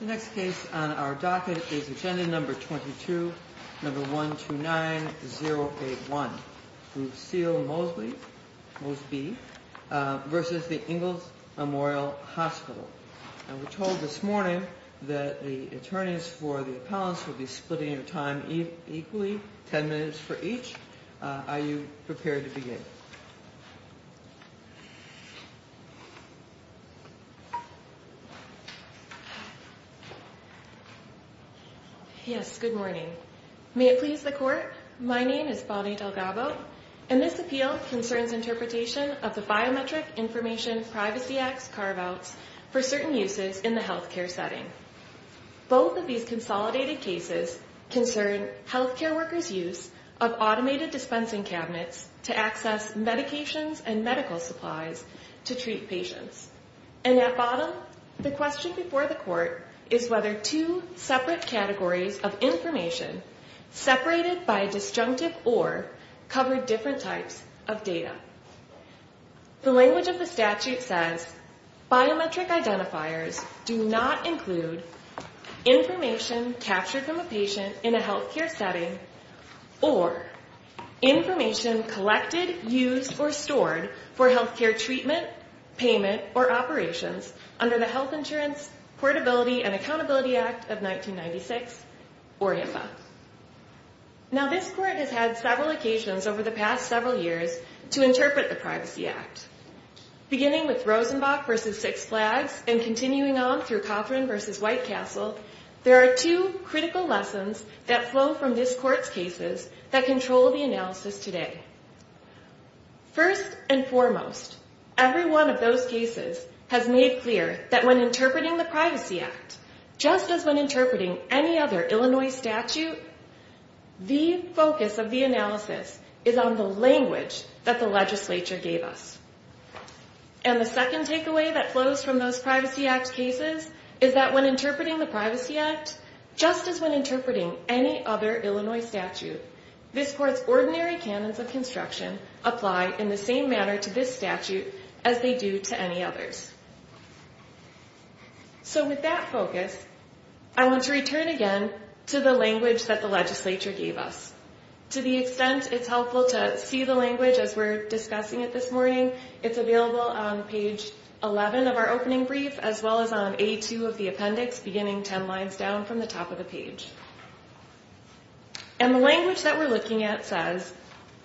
The next case on our docket is Agenda No. 22, No. 129081, Lucille Mosby v. The Ingalls Memorial Hospital. We were told this morning that the attorneys for the appellants will be splitting their time equally, 10 minutes for each. Are you prepared to begin? Yes, good morning. May it please the Court, my name is Bonnie Delgado, and this appeal concerns interpretation of the Biometric Information Privacy Act's carve-outs for certain uses in the health care setting. Both of these consolidated cases concern health care workers' use of automated dispensing cabinets to access medications and medical supplies to treat patients. And at bottom, the question before the Court is whether two separate categories of information, separated by a disjunctive or, cover different types of data. The language of the statute says, biometric identifiers do not include information captured from a patient in a health care setting or information collected, used, or stored for health care treatment, payment, or operations under the Health Insurance Portability and Accountability Act of 1996, or HIPAA. Now this Court has had several occasions over the past several years to interpret the Privacy Act. Beginning with Rosenbach v. Six Flags and continuing on through Cothran v. White Castle, there are two critical lessons that flow from this Court's cases that control the analysis today. First and foremost, every one of those cases has made clear that when interpreting the Privacy Act, just as when interpreting any other Illinois statute, the focus of the analysis is on the language that the legislature gave us. And the second takeaway that flows from those Privacy Act cases is that when interpreting the Privacy Act, just as when interpreting any other Illinois statute, this Court's ordinary canons of construction apply in the same manner to this statute as they do to any others. So with that focus, I want to return again to the language that the legislature gave us. To the extent it's helpful to see the language as we're discussing it this morning, it's available on page 11 of our opening brief as well as on A2 of the appendix beginning 10 lines down from the top of the page. And the language that we're looking at says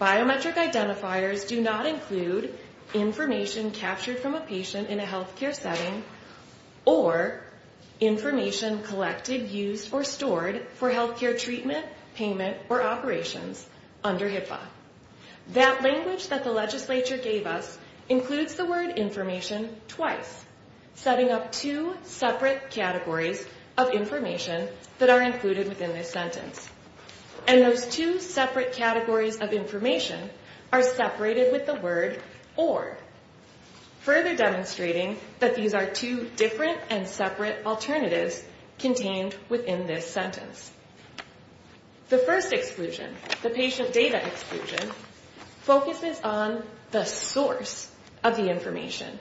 biometric identifiers do not include information captured from a patient in a healthcare setting or information collected, used, or stored for healthcare treatment, payment, or operations under HIPAA. That language that the legislature gave us includes the word information twice, setting up two separate categories of information that are included within this sentence. And those two separate categories of information are separated with the word or, further demonstrating that these are two different and separate alternatives contained within this sentence. The first exclusion, the patient data exclusion, focuses on the source of the information.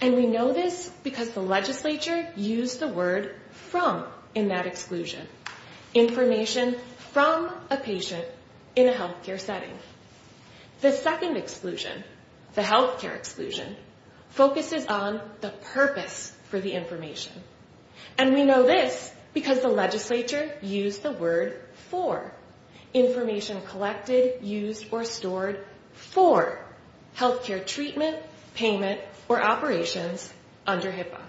And we know this because the legislature used the word from in that exclusion. Information from a patient in a healthcare setting. The second exclusion, the healthcare exclusion, focuses on the purpose for the information. And we know this because the legislature used the word for. Information collected, used, or stored for healthcare treatment, payment, or operations under HIPAA.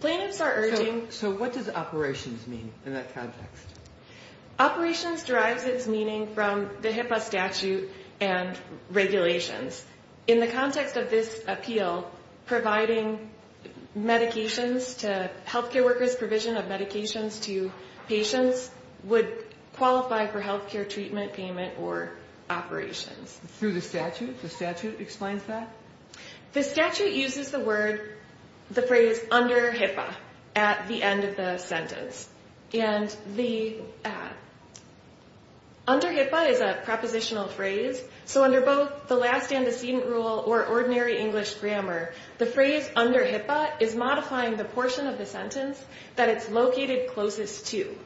Plaintiffs are urging... So what does operations mean in that context? Operations derives its meaning from the HIPAA statute and regulations. In the context of this appeal, providing medications to healthcare workers, provision of medications to patients would qualify for healthcare treatment, payment, or operations. Through the statute? The statute explains that? The statute uses the phrase under HIPAA at the end of the sentence. Under HIPAA is a propositional phrase. So under both the last antecedent rule or ordinary English grammar, the phrase under HIPAA is modifying the portion of the sentence that it's located closest to.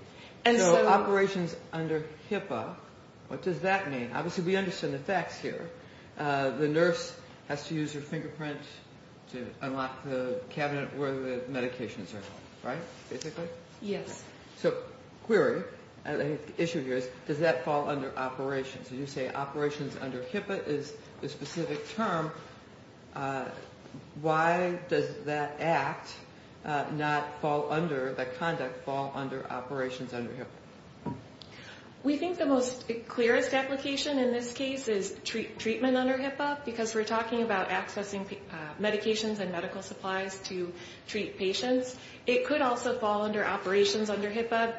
So operations under HIPAA, what does that mean? Obviously we understand the facts here. The nurse has to use her fingerprint to unlock the cabinet where the medications are, right? Yes. So, query, the issue here is, does that fall under operations? You say operations under HIPAA is a specific term. Why does that act not fall under, that conduct fall under operations under HIPAA? We think the most clearest application in this case is treatment under HIPAA because we're talking about accessing medications and medical supplies to treat patients. It could also fall under operations under HIPAA.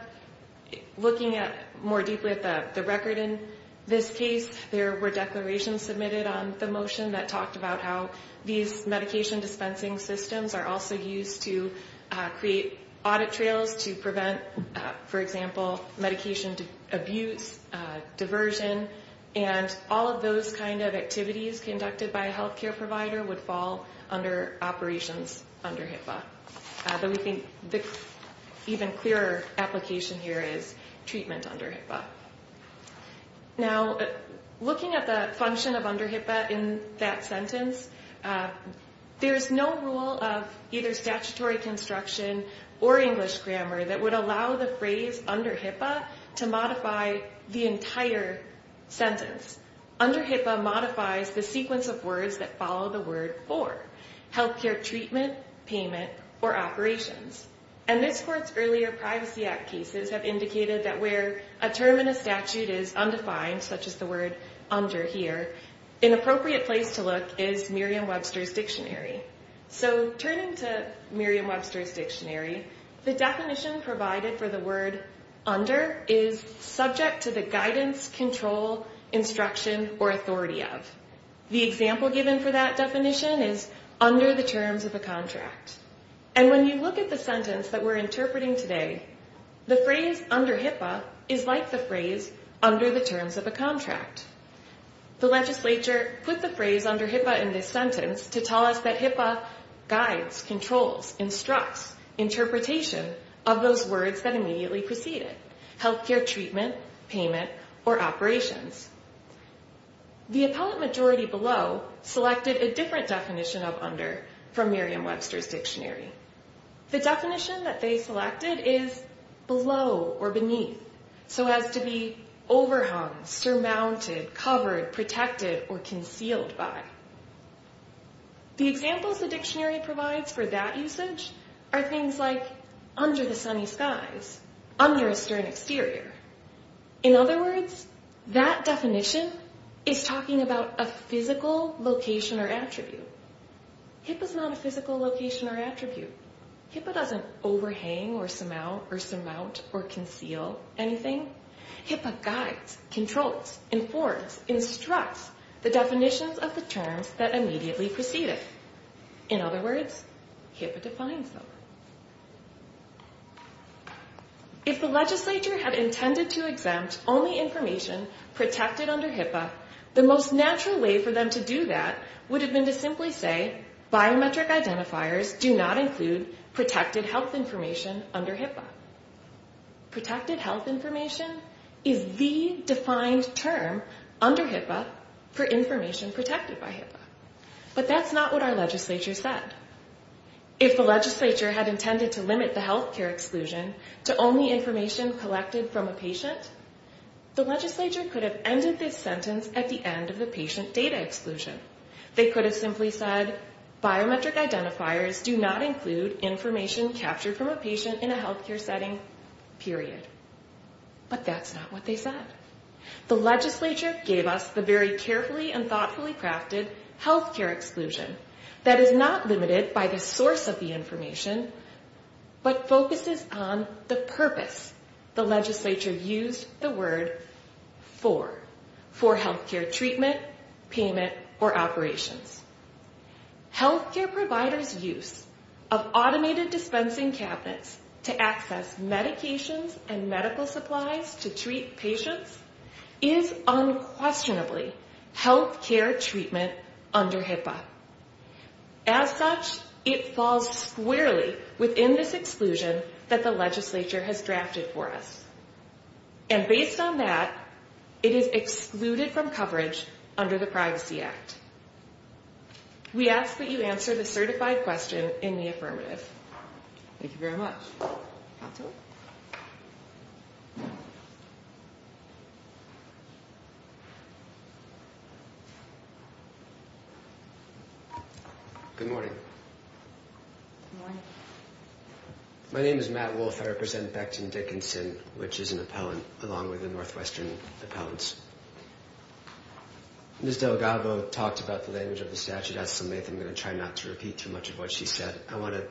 Looking more deeply at the record in this case, there were declarations submitted on the motion that talked about how these medication dispensing systems are also used to create audit trails to prevent, for example, medication abuse, diversion. And all of those kind of activities conducted by a healthcare provider would fall under operations under HIPAA. So we think the even clearer application here is treatment under HIPAA. Now, looking at the function of under HIPAA in that sentence, there's no rule of either statutory construction or English grammar that would allow the phrase under HIPAA to modify the entire sentence. Under HIPAA modifies the sequence of words that follow the word for healthcare treatment, payment, or operations. And this court's earlier Privacy Act cases have indicated that where a term in a statute is undefined, such as the word under here, an appropriate place to look is Merriam-Webster's Dictionary. So turning to Merriam-Webster's Dictionary, the definition provided for the word under is subject to the guidance, control, instruction, or authority of. The example given for that definition is under the terms of a contract. And when you look at the sentence that we're interpreting today, the phrase under HIPAA is like the phrase under the terms of a contract. The legislature put the phrase under HIPAA in this sentence to tell us that HIPAA guides, controls, instructs interpretation of those words that immediately precede it. Healthcare treatment, payment, or operations. The appellate majority below selected a different definition of under from Merriam-Webster's Dictionary. The definition that they selected is below or beneath, so as to be overhung, surmounted, covered, protected, or concealed by. The examples the dictionary provides for that usage are things like under the sunny skies, under a stern exterior. In other words, that definition is talking about a physical location or attribute. HIPAA is not a physical location or attribute. HIPAA doesn't overhang or surmount or conceal anything. HIPAA guides, controls, informs, instructs the definitions of the terms that immediately precede it. In other words, HIPAA defines them. If the legislature had intended to exempt only information protected under HIPAA, the most natural way for them to do that would have been to simply say, biometric identifiers do not include protected health information under HIPAA. Protected health information is the defined term under HIPAA for information protected by HIPAA. But that's not what our legislature said. If the legislature had intended to limit the healthcare exclusion to only information collected from a patient, the legislature could have ended this sentence at the end of the patient data exclusion. They could have simply said, biometric identifiers do not include information captured from a patient in a healthcare setting, period. But that's not what they said. The legislature gave us the very carefully and thoughtfully crafted healthcare exclusion that is not limited by the source of the information, but focuses on the purpose the legislature used the word for, for healthcare treatment, payment, or operations. Healthcare providers' use of automated dispensing cabinets to access medications and medical supplies to treat patients is unquestionably healthcare treatment under HIPAA. As such, it falls squarely within this exclusion that the legislature has drafted for us. And based on that, it is excluded from coverage under the Privacy Act. We ask that you answer the certified question in the affirmative. Thank you very much. Good morning. Good morning. My name is Matt Wolfe. I represent Becton Dickinson, which is an appellant along with the Northwestern Appellants. Ms. Delgado talked about the language of the statute. I'm going to try not to repeat too much of what she said. I want to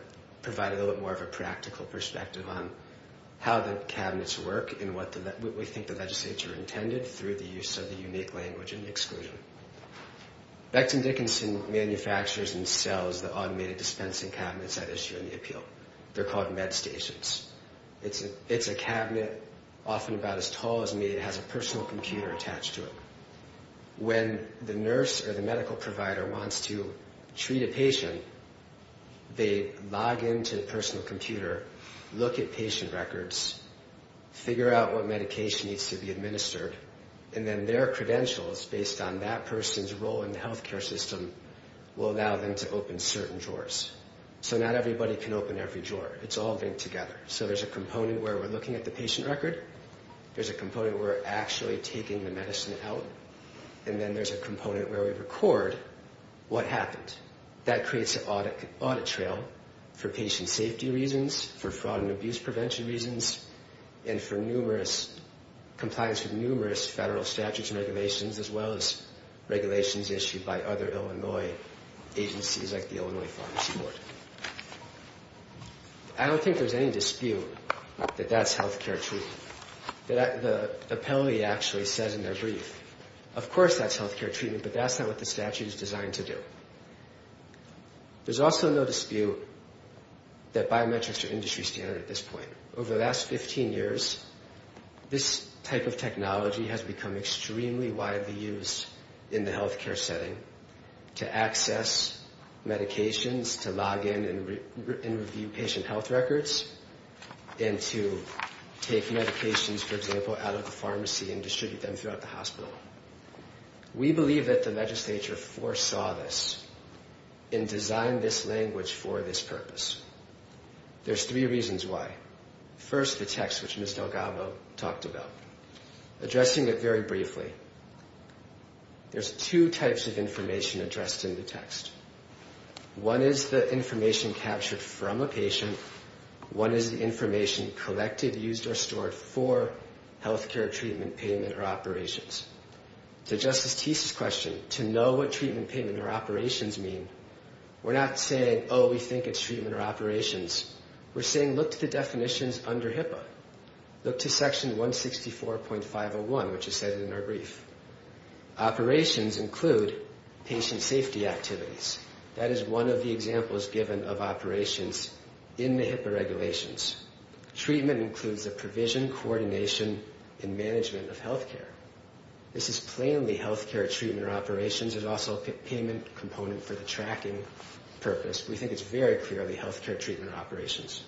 provide a little bit more of a practical perspective on how the cabinets work and what we think the legislature intended through the use of the unique language and exclusion. Becton Dickinson manufactures and sells the automated dispensing cabinets that issue in the appeal. They're called med stations. It's a cabinet often about as tall as me. It has a personal computer attached to it. When the nurse or the medical provider wants to treat a patient, they log into the personal computer, look at patient records, figure out what medication needs to be administered, and then their credentials, based on that person's role in the healthcare system, will allow them to open certain drawers. So not everybody can open every drawer. It's all linked together. So there's a component where we're looking at the patient record. There's a component where we're actually taking the medicine out. And then there's a component where we record what happened. That creates an audit trail for patient safety reasons, for fraud and abuse prevention reasons, and for compliance with numerous federal statutes and regulations, as well as regulations issued by other Illinois agencies like the Illinois Pharmacy Board. I don't think there's any dispute that that's healthcare treatment. The penalty actually says in their brief, of course that's healthcare treatment, but that's not what the statute is designed to do. There's also no dispute that biometrics are industry standard at this point. Over the last 15 years, this type of technology has become extremely widely used in the healthcare setting to access medications, to log in and review patient health records, and to take medications, for example, out of the pharmacy and distribute them throughout the hospital. We believe that the legislature foresaw this and designed this language for this purpose. There's three reasons why. First, the text, which Ms. Delgado talked about. Addressing it very briefly, there's two types of information addressed in the text. One is the information captured from a patient and one is the information collected, used, or stored for healthcare treatment, payment, or operations. To Justice Teese's question, to know what treatment, payment, or operations mean, we're not saying, oh, we think it's treatment or operations. We're saying look to the definitions under HIPAA. Look to section 164.501, which is said in our brief. Operations include patient safety activities. That is one of the examples given of operations in the HIPAA regulations. Treatment includes the provision, coordination, and management of healthcare. This is plainly healthcare treatment or operations. There's also a payment component for the tracking purpose. We think it's very clearly healthcare treatment or operations.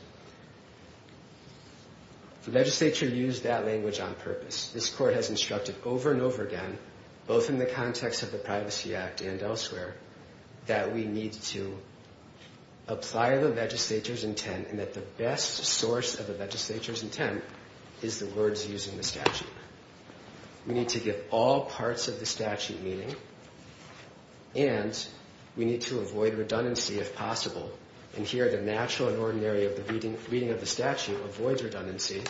The legislature used that language on purpose. This court has instructed over and over again, both in the context of the Privacy Act and elsewhere, that we need to apply the legislature's intent and that the best source of the legislature's intent is the words used in the statute. We need to give all parts of the statute meaning and we need to avoid redundancy if possible. And here the natural and ordinary of the reading of the statute avoids redundancy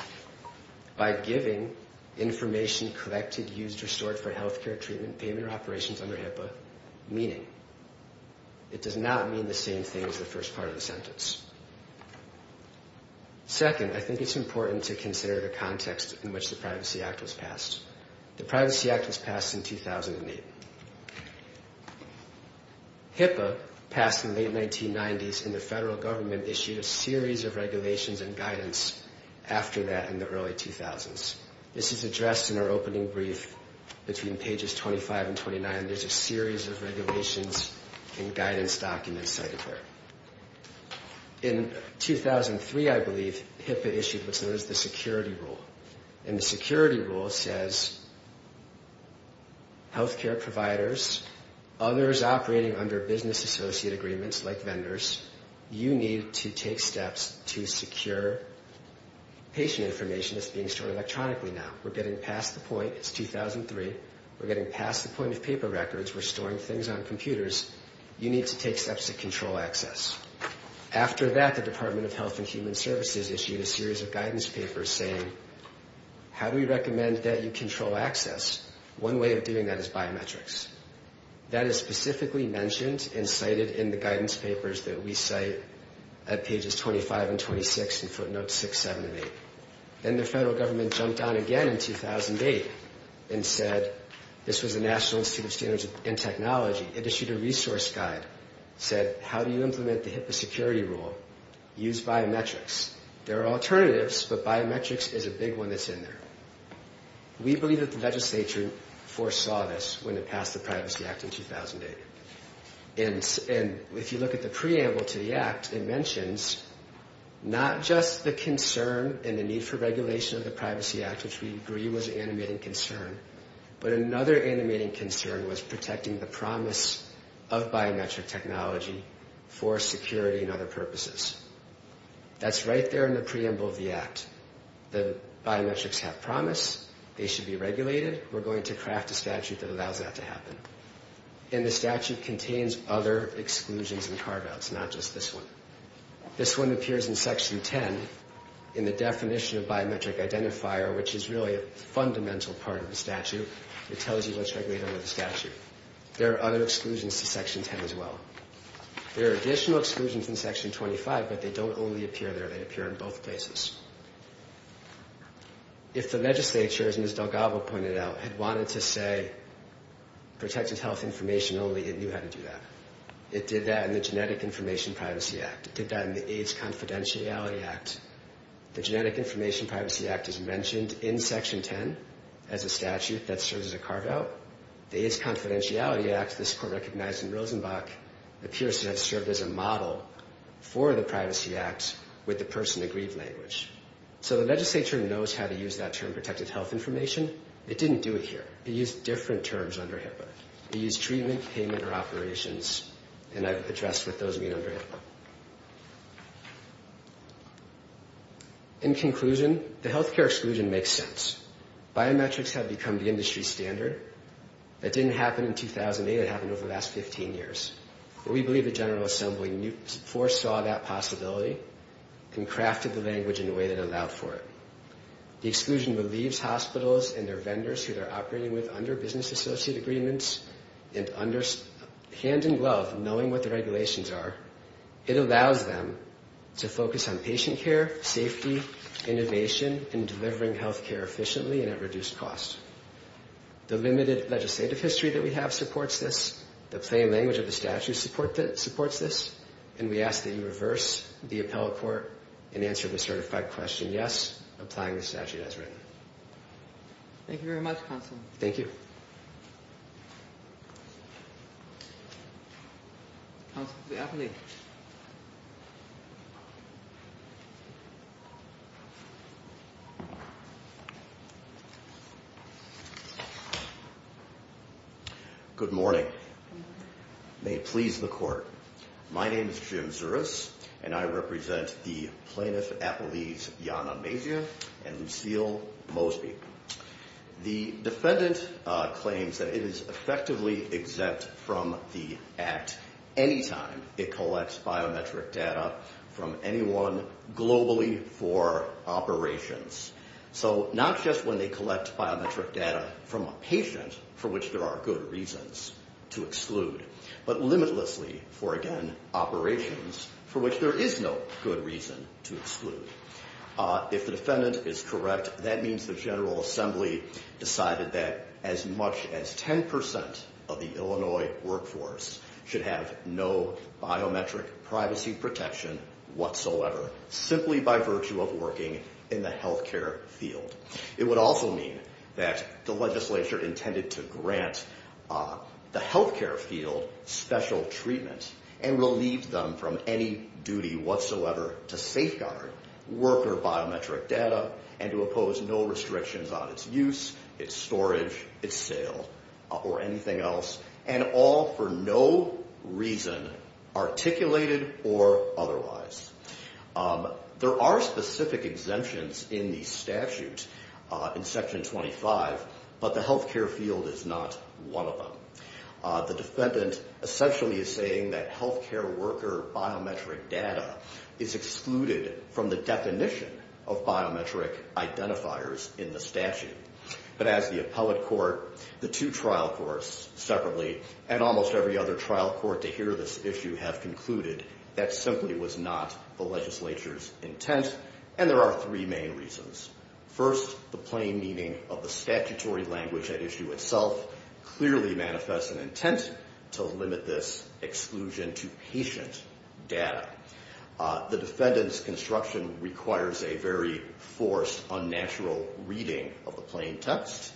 by giving information collected, used, or stored for healthcare treatment, payment, or operations under HIPAA meaning. It does not mean the same thing as the first part of the sentence. Second, I think it's important to consider the context in which the Privacy Act was passed. The Privacy Act was passed in 2008. HIPAA passed in the late 1990s and the federal government issued a series of regulations and guidance after that in the early 2000s. This is addressed in our opening brief between pages 25 and 29. There's a series of regulations and guidance documents cited there. In 2003, I believe, HIPAA issued what's known as the Security Rule. And the Security Rule says healthcare providers, others operating under business associate agreements like vendors, you need to take steps to secure patient information that's being stored electronically now. We're getting past the point. It's 2003. We're getting past the point of paper records. We're storing things on computers. You need to take steps to control access. After that, the Department of Health and Human Services issued a series of guidance papers saying, how do we recommend that you control access? One way of doing that is biometrics. That is specifically mentioned and cited in the guidance papers that we cite at pages 25 and 26 in footnotes 6, 7, and 8. Then the federal government jumped on again in 2008 and said, this was the National Institute of Standards and Technology. It issued a resource guide. It said, how do you implement the HIPAA Security Rule? Use biometrics. There are alternatives, but biometrics is a big one that's in there. We believe that the legislature foresaw this when it passed the Privacy Act in 2008. And if you look at the preamble to the act, it mentions not just the concern and the need for regulation of the Privacy Act, which we agree was animating concern, but another animating concern was protecting the promise of biometric technology for security and other purposes. That's right there in the preamble of the act. The biometrics have promise. They should be regulated. We're going to craft a statute that allows that to happen. And the statute contains other exclusions and carve-outs, not just this one. This one appears in Section 10 in the definition of biometric identifier, which is really a fundamental part of the statute. It tells you what's regulated under the statute. There are other exclusions to Section 10 as well. There are additional exclusions in Section 25, but they don't only appear there. They appear in both places. If the legislature, as Ms. Delgado pointed out, had wanted to say, protected health information only, it knew how to do that. It did that in the Genetic Information Privacy Act. It did that in the AIDS Confidentiality Act. The Genetic Information Privacy Act is mentioned in Section 10 as a statute that serves as a carve-out. The AIDS Confidentiality Act, this court recognized in Rosenbach, appears to have served as a model for the Privacy Act with the person-agreed language. So the legislature knows how to use that term, protected health information. It didn't do it here. It used different terms under HIPAA. It used treatment, payment, or operations, and I've addressed what those mean under HIPAA. In conclusion, the healthcare exclusion makes sense. Biometrics have become the industry standard. That didn't happen in 2008. It happened over the last 15 years. But we believe the General Assembly foresaw that possibility and crafted the language in a way that allowed for it. The exclusion relieves hospitals and their vendors who they're operating with under business associate agreements and under hand-in-glove knowing what the regulations are It allows them to focus on patient care, safety, innovation, and delivering healthcare efficiently and at reduced cost. The limited legislative history that we have supports this. The plain language of the statute supports this. And we ask that you reverse the appellate court and answer the certified question, yes, applying the statute as written. Thank you very much, Counsel. Thank you. Thank you. Counsel to the appellate. Good morning. May it please the court. My name is Jim Zuras, and I represent the plaintiff appellees Jana Mazia and Lucille Mosby. The defendant claims that it is effectively exempt from the act any time it collects biometric data from anyone globally for operations. So not just when they collect biometric data from a patient for which there are good reasons to exclude, but limitlessly for, again, operations for which there is no good reason to exclude. If the defendant is correct, that means the General Assembly decided that as much as 10 percent of the Illinois workforce should have no biometric privacy protection whatsoever, simply by virtue of working in the healthcare field. It would also mean that the legislature intended to grant the healthcare field special treatment and relieve them from any duty whatsoever to safeguard worker biometric data and to oppose no restrictions on its use, its storage, its sale, or anything else, and all for no reason articulated or otherwise. There are specific exemptions in the statute in Section 25, but the healthcare field is not one of them. The defendant essentially is saying that healthcare worker biometric data is excluded from the definition of biometric identifiers in the statute. But as the appellate court, the two trial courts separately, and almost every other trial court to hear this issue have concluded that simply was not the legislature's intent, and there are three main reasons. First, the plain meaning of the statutory language at issue itself clearly manifests an intent to limit this exclusion to patient data. The defendant's construction requires a very forced, unnatural reading of the plain text.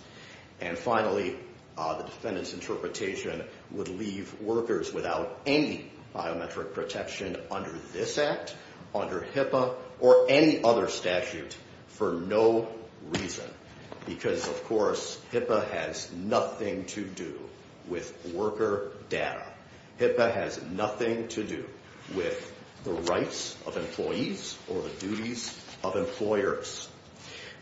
And finally, the defendant's interpretation would leave workers without any biometric protection under this Act, under HIPAA, or any other statute for no reason. Because, of course, HIPAA has nothing to do with worker data. HIPAA has nothing to do with the rights of employees or the duties of employers.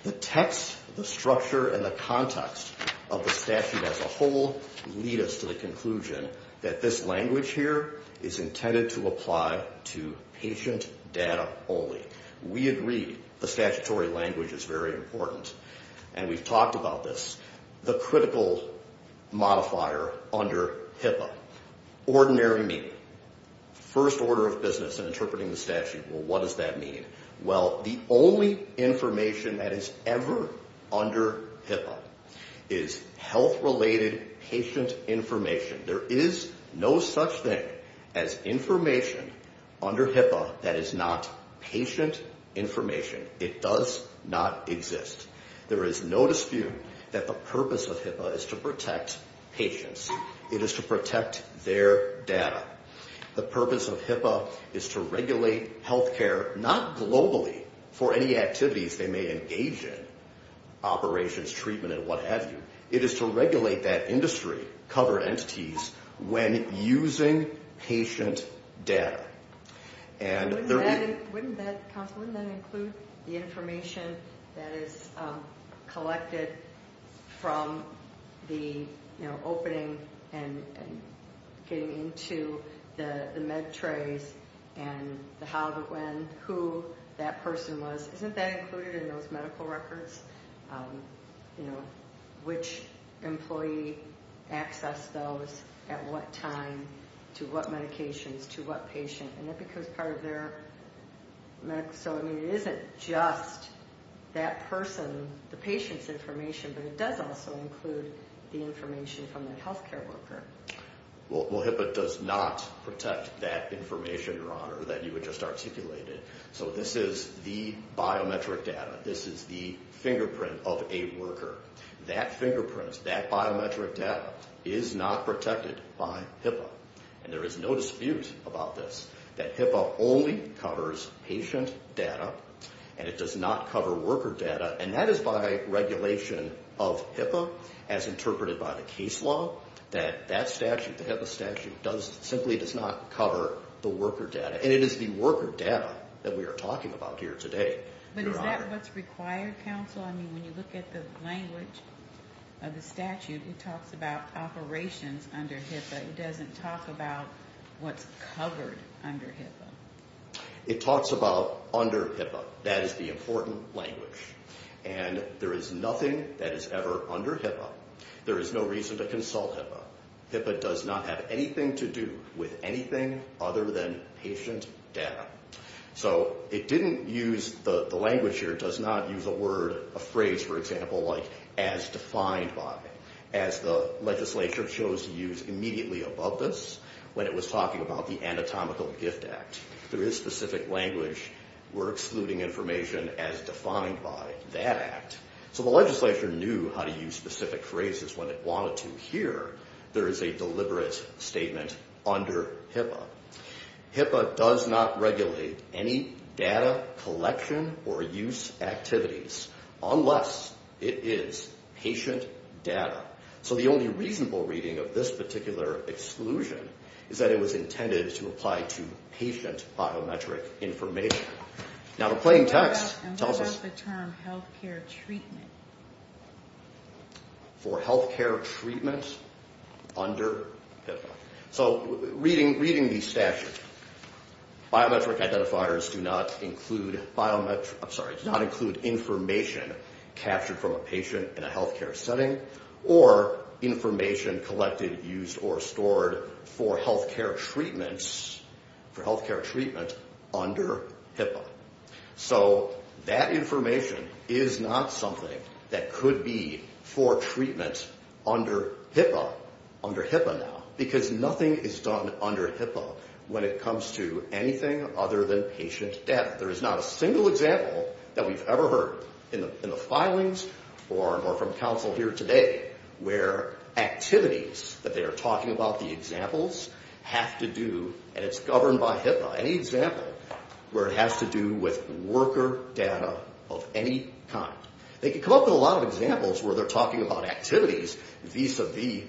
The text, the structure, and the context of the statute as a whole lead us to the conclusion that this language here is intended to apply to patient data only. We agree the statutory language is very important, and we've talked about this. The critical modifier under HIPAA is ordinary meaning, first order of business in interpreting the statute. Well, what does that mean? Well, the only information that is ever under HIPAA is health-related patient information. There is no such thing as information under HIPAA that is not patient information. It does not exist. There is no dispute that the purpose of HIPAA is to protect patients. It is to protect their data. The purpose of HIPAA is to regulate health care, not globally for any activities they may engage in, operations, treatment, and what have you. It is to regulate that industry, cover entities, when using patient data. And there... Wouldn't that include the information that is collected from the opening and getting into the med trays and the how, the when, who that person was? Isn't that included in those medical records? You know, which employee accessed those, at what time, to what medications, to what patient? And that becomes part of their medical... So, I mean, it isn't just that person, the patient's information, but it does also include the information from the health care worker. Well, HIPAA does not protect that information, Your Honor, that you had just articulated. So this is the biometric data. This is the fingerprint of a worker. That fingerprint, that biometric data, is not protected by HIPAA. And there is no dispute about this, that HIPAA only covers patient data, and it does not cover worker data. And that is by regulation of HIPAA, as interpreted by the case law, that that statute, the HIPAA statute, simply does not cover the worker data. And it is the worker data that we are talking about here today. But is that what's required, counsel? I mean, when you look at the language of the statute, It doesn't talk about what's covered under HIPAA. It talks about under HIPAA. That is the important language. And there is nothing that is ever under HIPAA. There is no reason to consult HIPAA. HIPAA does not have anything to do with anything other than patient data. So it didn't use the language here. It does not use a word, a phrase, for example, like, as defined by, as the legislature chose to use immediately above this when it was talking about the Anatomical Gift Act. There is specific language. We're excluding information as defined by that act. So the legislature knew how to use specific phrases when it wanted to. Here, there is a deliberate statement under HIPAA. HIPAA does not regulate any data collection or use activities unless it is patient data. So the only reasonable reading of this particular exclusion is that it was intended to apply to patient biometric information. Now, the plain text tells us... And what about the term health care treatment? For health care treatment under HIPAA. So reading these statutes, biometric identifiers do not include biometric, I'm sorry, do not include information captured from a patient in a health care setting or information collected, used, or stored for health care treatment under HIPAA. So that information is not something that could be for treatment under HIPAA, under HIPAA now, because nothing is done under HIPAA when it comes to anything other than patient data. There is not a single example that we've ever heard in the filings or from counsel here today where activities that they are talking about, the examples, have to do, and it's governed by HIPAA, any example where it has to do with worker data of any kind. They can come up with a lot of examples where they're talking about activities vis-a-vis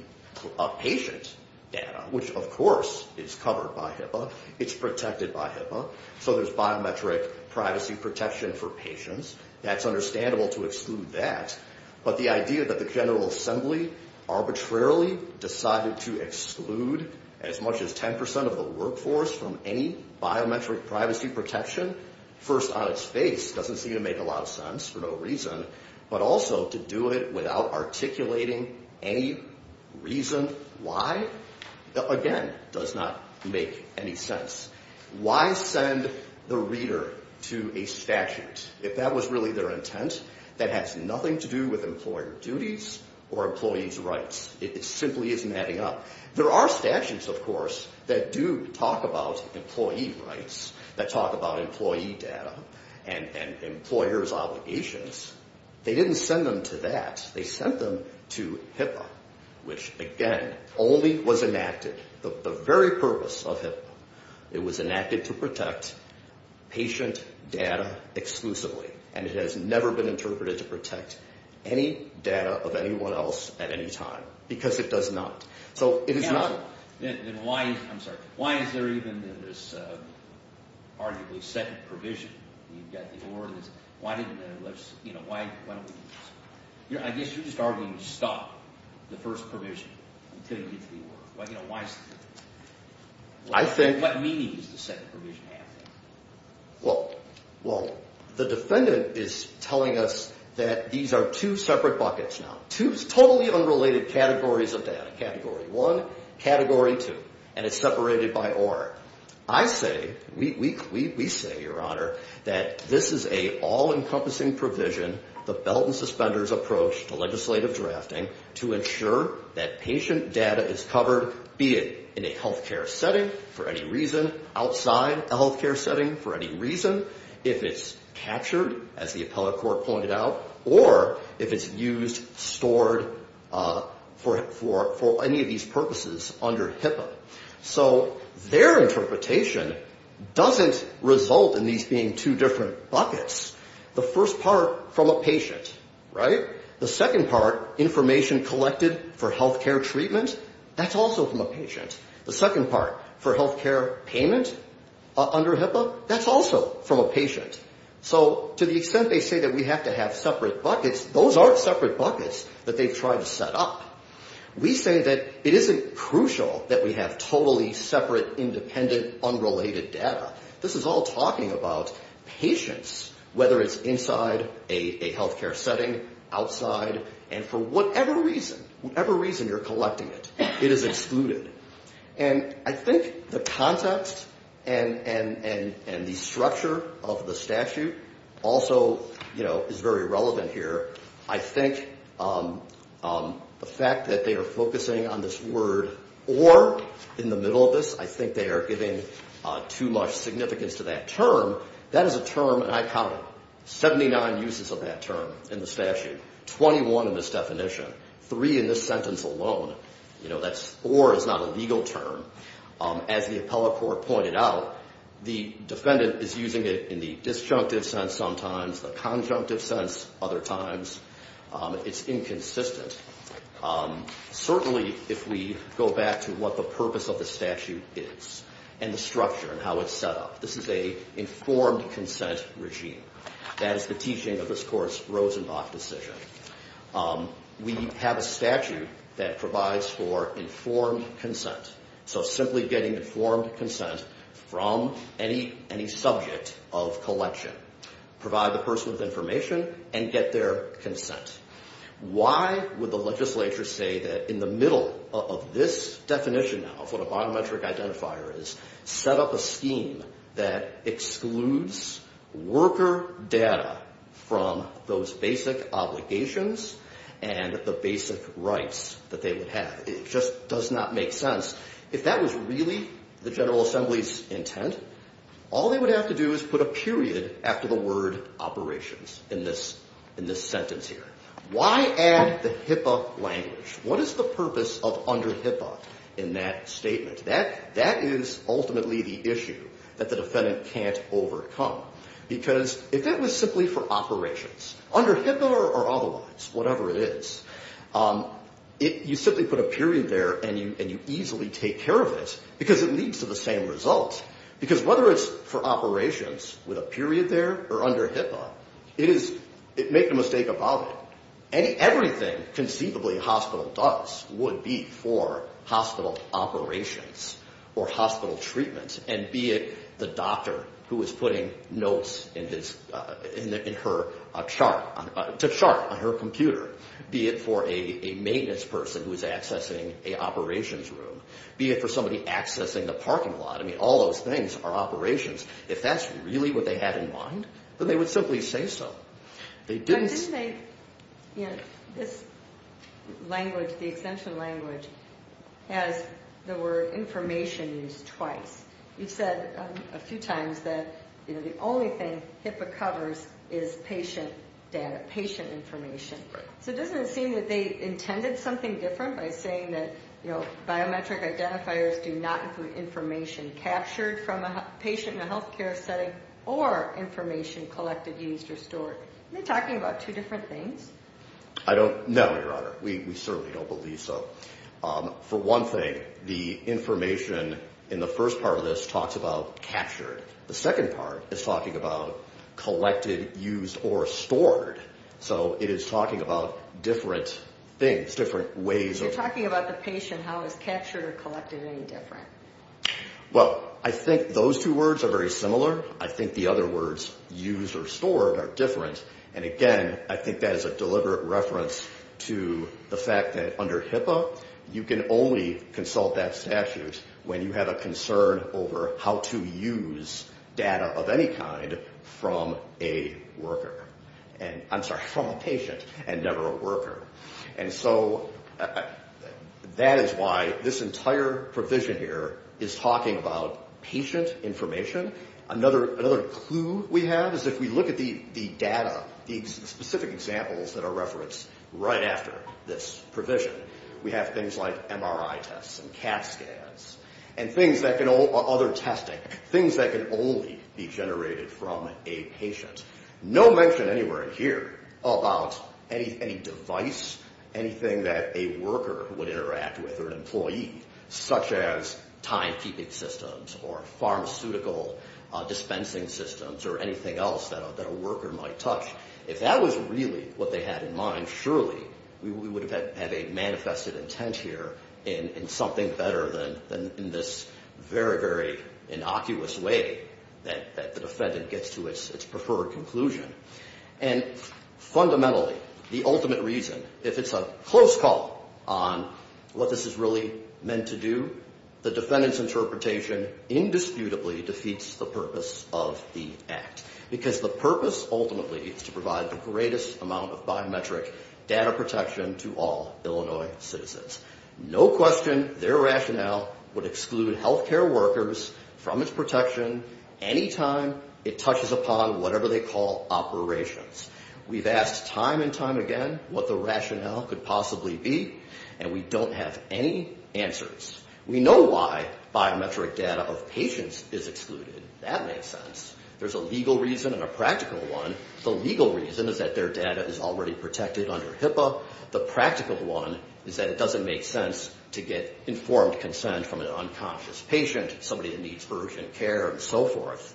patient data, which of course is covered by HIPAA. It's protected by HIPAA. So there's biometric privacy protection for patients. That's understandable to exclude that, but the idea that the General Assembly arbitrarily decided to exclude as much as 10% of the workforce from any biometric privacy protection, first on its face, doesn't seem to make a lot of sense for no reason, but also to do it without articulating any reason why, again, does not make any sense. Why send the reader to a statute if that's really their intent, that has nothing to do with employer duties or employee's rights? It simply isn't adding up. There are statutes, of course, that do talk about employee rights, that talk about employee data and employer's obligations. They didn't send them to that. They sent them to HIPAA, which again only was enacted, the very purpose of HIPAA. It was enacted to protect patient data exclusively, and it has never been interpreted to protect any data of anyone else at any time because it does not. So it is not... I'm sorry. Why is there even this arguably second provision? You've got the ordinance. Why don't we... I guess you're just arguing to stop the first provision until you get to the order. I think... What meaning does the second provision have? Well, the defendant is telling us that these are two separate buckets now, two totally unrelated categories of data, category one, category two, and it's separated by OR. I say, we say, Your Honor, that this is an all-encompassing provision, the belt and suspenders approach to legislative drafting to ensure that patient data is covered, be it in a health care setting, for any reason, outside a health care setting, for any reason, if it's captured, as the appellate court pointed out, or if it's used, stored, for any of these purposes under HIPAA. So their interpretation doesn't result in these being two different buckets. The first part, from a patient, right? The second part, information collected for health care treatment, that's also from a patient. The second part, information collected for treatment under HIPAA, that's also from a patient. So to the extent they say that we have to have separate buckets, those aren't separate buckets that they've tried to set up. We say that it isn't crucial that we have totally separate, independent, unrelated data. This is all talking about patients, whether it's inside a health care setting, outside, and for whatever reason, whatever reason you're collecting it, it is excluded. And the structure of the statute also, you know, is very relevant here. I think the fact that they are focusing on this word or, in the middle of this, I think they are giving too much significance to that term. That is a term, and I counted 79 uses of that term in the statute, 21 in this definition, three in this sentence alone. You know, that's or is not a legal term. As the appellate court pointed out, the defendant is using it in the disjunctive sense sometimes, the conjunctive sense other times. It's inconsistent. Certainly, if we go back to what the purpose of the statute is and the structure and how it's set up, this is a informed consent regime. That is the teaching of this Court's Rosenbach decision. We have a statute that provides for informed consent. So simply getting informed consent from any subject of collection. Provide the person with information and get their consent. Why would the legislature say that in the middle of this definition now, of what a biometric identifier is, set up a scheme that excludes worker data from those basic obligations and the basic rights that they would have? It just does not make sense. If that was really the General Assembly's intent, all they would have to do is put a period after the word operations in this sentence here. Why add the HIPAA language? What is the purpose of under HIPAA in that statement? That is ultimately the issue that the defendant can't overcome. Because if that was simply for operations, under HIPAA or otherwise, whatever it is, you simply put a period there and you easily take care of it because it leads to the same result. Because whether it's for operations with a period there or under HIPAA, make no mistake about it, everything conceivably a hospital does would be for hospital operations or hospital treatment. And be it the doctor who is putting notes to chart on her computer. Be it for a maintenance person who is accessing the operations room. Be it for somebody accessing the parking lot. All those things are operations. If that's really what they had in mind, then they would simply say so. They didn't say... This language, the exemption language, has the word information used twice. You said a few times that the only thing HIPAA covers is patient data, patient information. So doesn't it seem as though biometric identifiers do not include information captured from a patient in a healthcare setting or information collected, used, or stored? Are you talking about two different things? No, Your Honor. We certainly don't believe so. For one thing, the information in the first part of this talks about captured. The second part is talking about collected, used, or stored. How is captured or collected any different? Well, I think those two words are very similar. I think the other words used or stored are different. And again, I think that is a deliberate reference to the fact that under HIPAA you can only consult that statute when you have a concern of any kind from a worker. I'm sorry, from a patient and never a worker. That's right. This entire provision here is talking about patient information. Another clue we have is if we look at the data, the specific examples that are referenced right after this provision, we have things like MRI tests and CAT scans and other testing, things that can only be generated from a patient. No mention anywhere in here about any device, any employee, such as timekeeping systems or pharmaceutical dispensing systems or anything else that a worker might touch. If that was really what they had in mind, surely we would have had a manifested intent here in something better than in this very, very innocuous way that the defendant gets to its preferred conclusion. And fundamentally, the ultimate reason, if it's a close call on what this is really meant to do, the defendant's interpretation indisputably defeats the purpose of the act because the purpose ultimately is to provide the greatest amount of biometric data protection to all Illinois citizens. No question their rationale would exclude healthcare workers from its protection any time it touches upon whatever they call operations. Time and time again, what the rationale could possibly be, and we don't have any answers. We know why biometric data of patients is excluded. That makes sense. There's a legal reason and a practical one. The legal reason is that their data is already protected under HIPAA. The practical one is that it doesn't make sense to get informed consent from an unconscious patient, somebody that needs urgent care and so forth.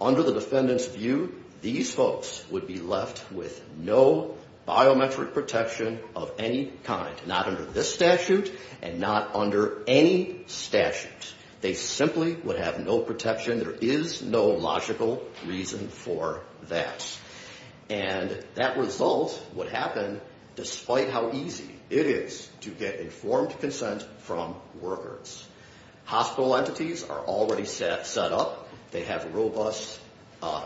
Under the defendant's view, these folks would be left with no biometric protection of any kind, not under this statute and not under any statute. They simply would have no protection. There is no logical reason for that. And that result would happen despite how easy it is to get informed consent from workers. The facilities are already set up. They have robust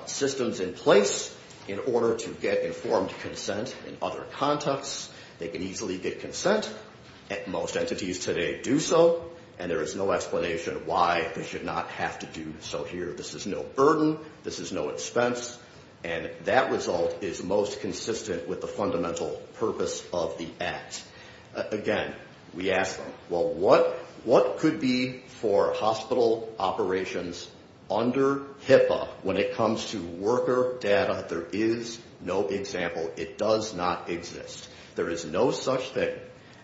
systems in place in order to get informed consent in other contexts. They can easily get consent. Most entities today do so, and there is no explanation why they should not have to do so here. This is no burden. This is no expense. And that result is most consistent with the fundamental purpose of the act. Again, we ask them, well, what could be for hospital operations under HIPAA when it comes to worker data? There is no example. It does not exist. There is no such thing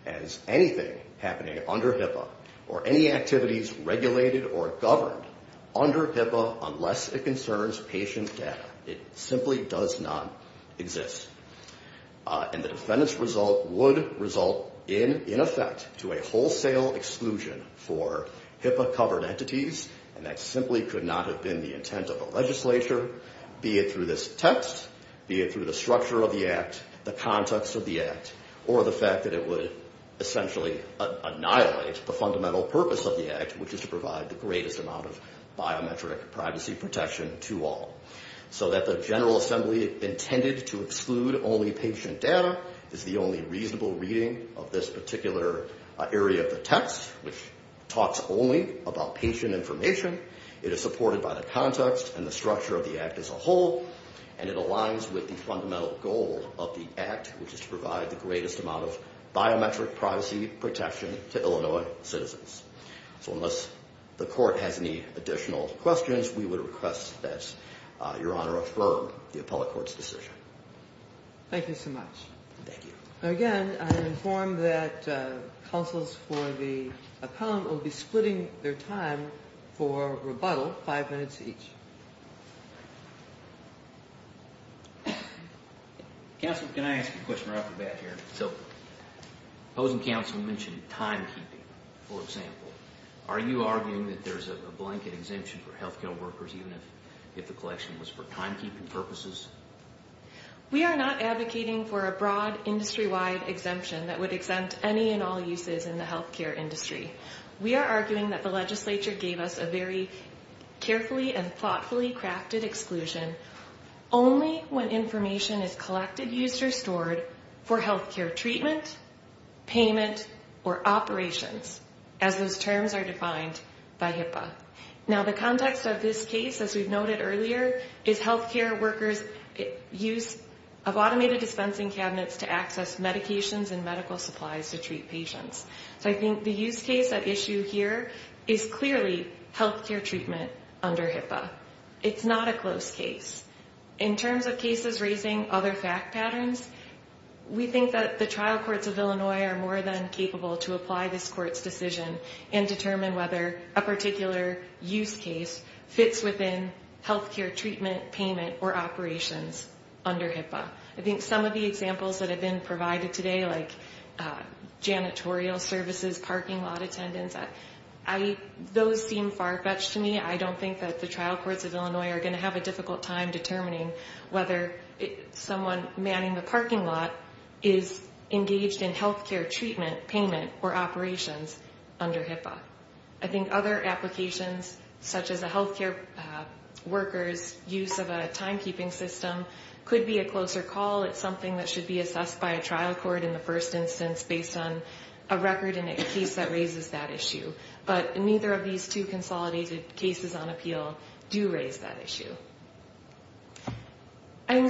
as anything happening under HIPAA or any activities regulated or governed under HIPAA unless it concerns patient data. It simply does not exist. And the defendant's result would result in effect to a wholesale exclusion for HIPAA-covered entities, and that simply could not have been the intent of the legislature, be it through this text, be it through the structure of the act, the context of the act, or the fact that it would essentially annihilate the fundamental purpose of the act, which is to provide the greatest amount of biometric privacy protection to all. So that the General Assembly intended to exclude only patient data is the only reasonable reading area of the text, which talks only about patient information. It is supported by the context and the structure of the act as a whole, and it aligns with the fundamental goal of the act, which is to provide the greatest amount of biometric privacy protection to Illinois citizens. So unless the Court has any additional questions, we would request that Your Honor affirm the appellate court's decision. Thank you so much. Thank you. Counsels for the appellant will be splitting their time for rebuttal, five minutes each. Counsel, can I ask you a question right off the bat here? So opposing counsel mentioned timekeeping, for example. Are you arguing that there's a blanket exemption for health care workers even if the collection was for timekeeping purposes? We are not advocating for a broad industry-wide exemption that would be used in the health care industry. We are arguing that the legislature gave us a very carefully and thoughtfully crafted exclusion only when information is collected, used, or stored for health care treatment, payment, or operations, as those terms are defined by HIPAA. Now, the context of this case, as we've noted earlier, is health care workers' use of automated dispensing cabinets to access medications and medical supplies to treat patients. So I think the use case at issue here is clearly health care treatment under HIPAA. It's not a close case. In terms of cases raising other fact patterns, we think that the trial courts of Illinois are more than capable to apply this court's decision and determine whether a particular use case fits within health care treatment, payment, or operations under HIPAA. I think some of the examples of janitorial services, parking lot attendance, those seem far-fetched to me. I don't think that the trial courts of Illinois are going to have a difficult time determining whether someone manning the parking lot is engaged in health care treatment, payment, or operations under HIPAA. I think other applications, such as a health care worker's use of a timekeeping system, could be a closer call. It's something that should be discussed based on a record and a case that raises that issue. But neither of these two consolidated cases on appeal do raise that issue.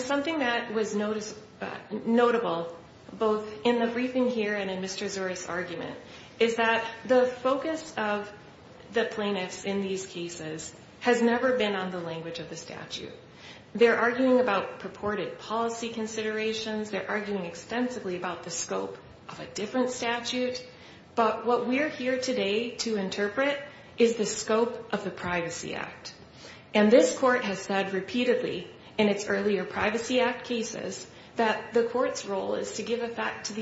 Something that was notable, both in the briefing here and in Mr. Zuris' argument, is that the focus of the plaintiffs in these cases has never been on the language of the statute. They're arguing about purported policy considerations. They're arguing extensively about a different statute. But what we're here today to interpret is the scope of the Privacy Act. And this court has said repeatedly in its earlier Privacy Act cases that the court's role is to give effect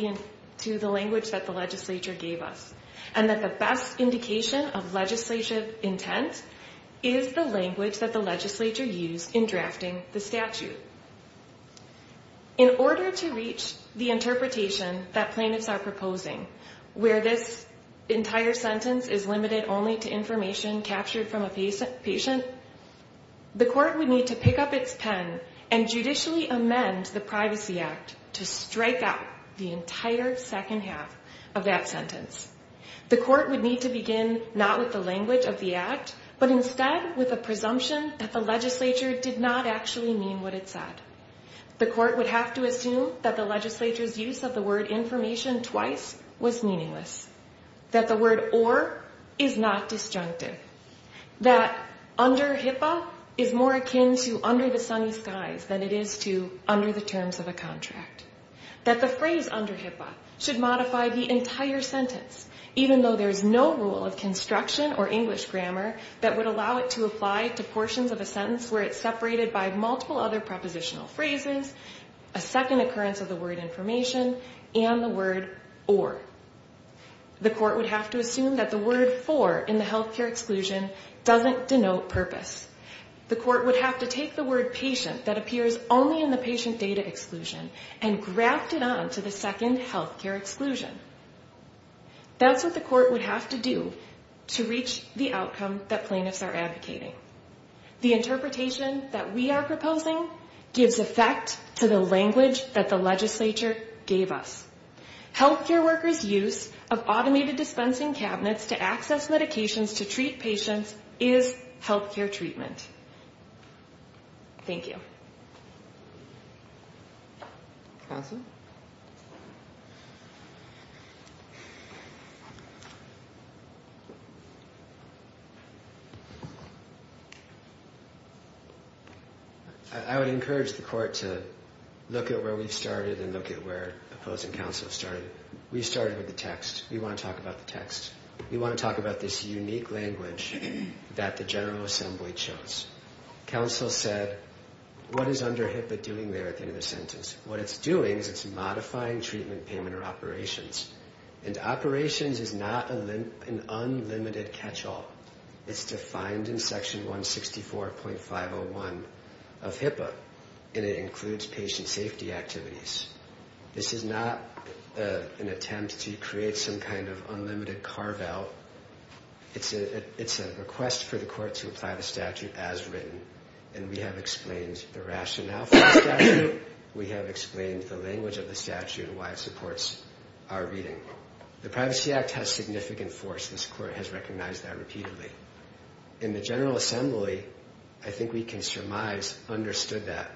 to the language that the legislature gave us, and that the best indication of legislative intent is the language that the legislature used in drafting the statute. In order to reach the sentence that we're proposing, where this entire sentence is limited only to information captured from a patient, the court would need to pick up its pen and judicially amend the Privacy Act to strike out the entire second half of that sentence. The court would need to begin not with the language of the act, but instead with a presumption that the legislature did not actually mean what it said. The court would have to assume that the phrase was meaningless, that the word or is not disjunctive, that under HIPAA is more akin to under the sunny skies than it is to under the terms of a contract, that the phrase under HIPAA should modify the entire sentence, even though there's no rule of construction or English grammar that would allow it to apply to portions of a sentence where it's separated by multiple other prepositional phrases, a second occurrence of the word information, and the word or. The court would have to assume that the word for in the health care exclusion doesn't denote purpose. The court would have to take the word patient that appears only in the patient data exclusion and graft it on to the second health care exclusion. That's what the court would have to do to reach the outcome that plaintiffs are advocating. The interpretation that we are proposing gives effect to the language that the legislature gave us. Health care workers' use of automated dispensing cabinets to access medications to treat patients is health care treatment. Thank you. Counsel? I would encourage the court to look at where we started and look at where opposing counsel started. We started with the text. We want to talk about the text. We want to talk about this unique language that the General Assembly chose. Counsel said, of the sentence? What it's doing is it's explaining what's going on in the sentence. It's explaining and it's modifying treatment payment or operations. And operations is not an unlimited catch-all. It's defined in section 164.501 of HIPAA and it includes patient safety activities. This is not an attempt to create some kind of unlimited carve-out. It's a request for the court to apply the statute as written and we have explained the rationale for the statute. We have explained the language of the statute and why it supports our reading. The Privacy Act has significant force. This court has recognized that repeatedly. In the General Assembly, I think we can surmise understood that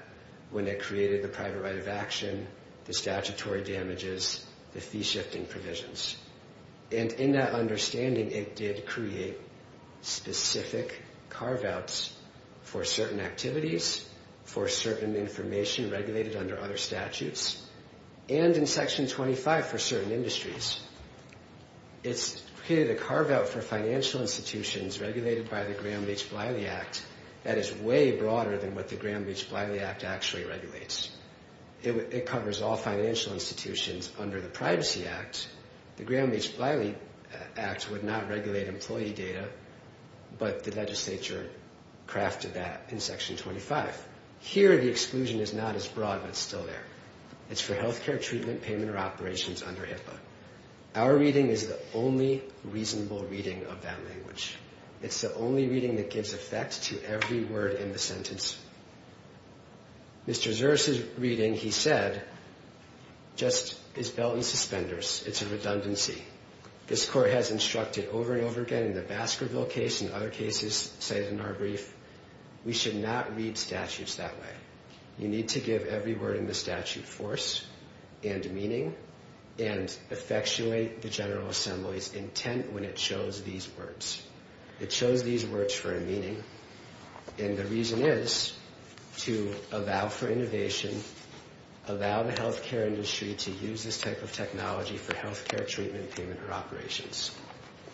when it created the private right of action, the statutory damages, the fee-shifting provisions. And in that understanding, it did create specific carve-outs for certain activities, for certain information regulated under other statutes, and in section 25 for certain industries. It's created a carve-out for financial institutions regulated by the Graham-Beech-Bliley Act that is way broader than what the Graham-Beech-Bliley Act actually regulates. It covers all financial institutions under the Privacy Act. The Graham-Beech-Bliley Act would not regulate employee data, but the legislature crafted that in section 25. Here, the exclusion is not as broad but it's still there. It's for healthcare, treatment, payment, or operations under HIPAA. Our reading is the only reasonable reading of that language. It's the only reading that gives effect to every word in the sentence. Mr. Zurs's reading, he said, just is belt and suspenders. It's a redundancy. This Court has instructed over and over again in the Baskerville case and other cases cited in our brief, we should not read statutes that way. You need to give every word in the statute force and meaning and effectuate the General Assembly's intent when it chose these words. It chose these words for a meaning and the reason is to allow for innovation, allow the healthcare industry to use this type of technology for healthcare, treatment, payment, or operations.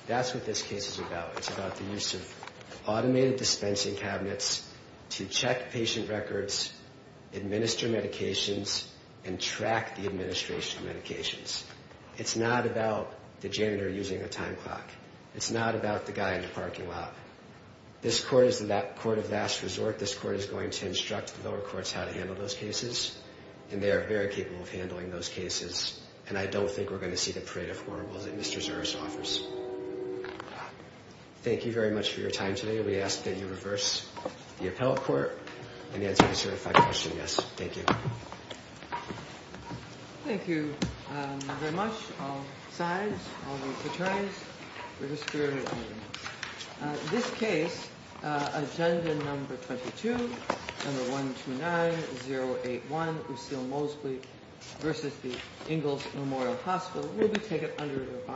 That's what this case is about. It's about the use of automated dispensing cabinets to check patient records, administer medications, and track the administration of medications. It's not about the janitor using a time clock. It's not about the guy in the parking lot. This Court is the Court of Last Resort. This Court is going to instruct the lower courts how to handle those cases and they are very capable of handling those cases and I don't think we're going to see the parade of horribles that Mr. Zurs offers. Thank you very much for your time today. We ask that you take your seats and answer the certified question. Thank you. Thank you very much all sides, all attorneys, for your spirit and evidence. This case, Agenda No. 22, No. 129081, Usil Moseley v. Ingalls Memorial Hospital, will be taken under review. Thank you.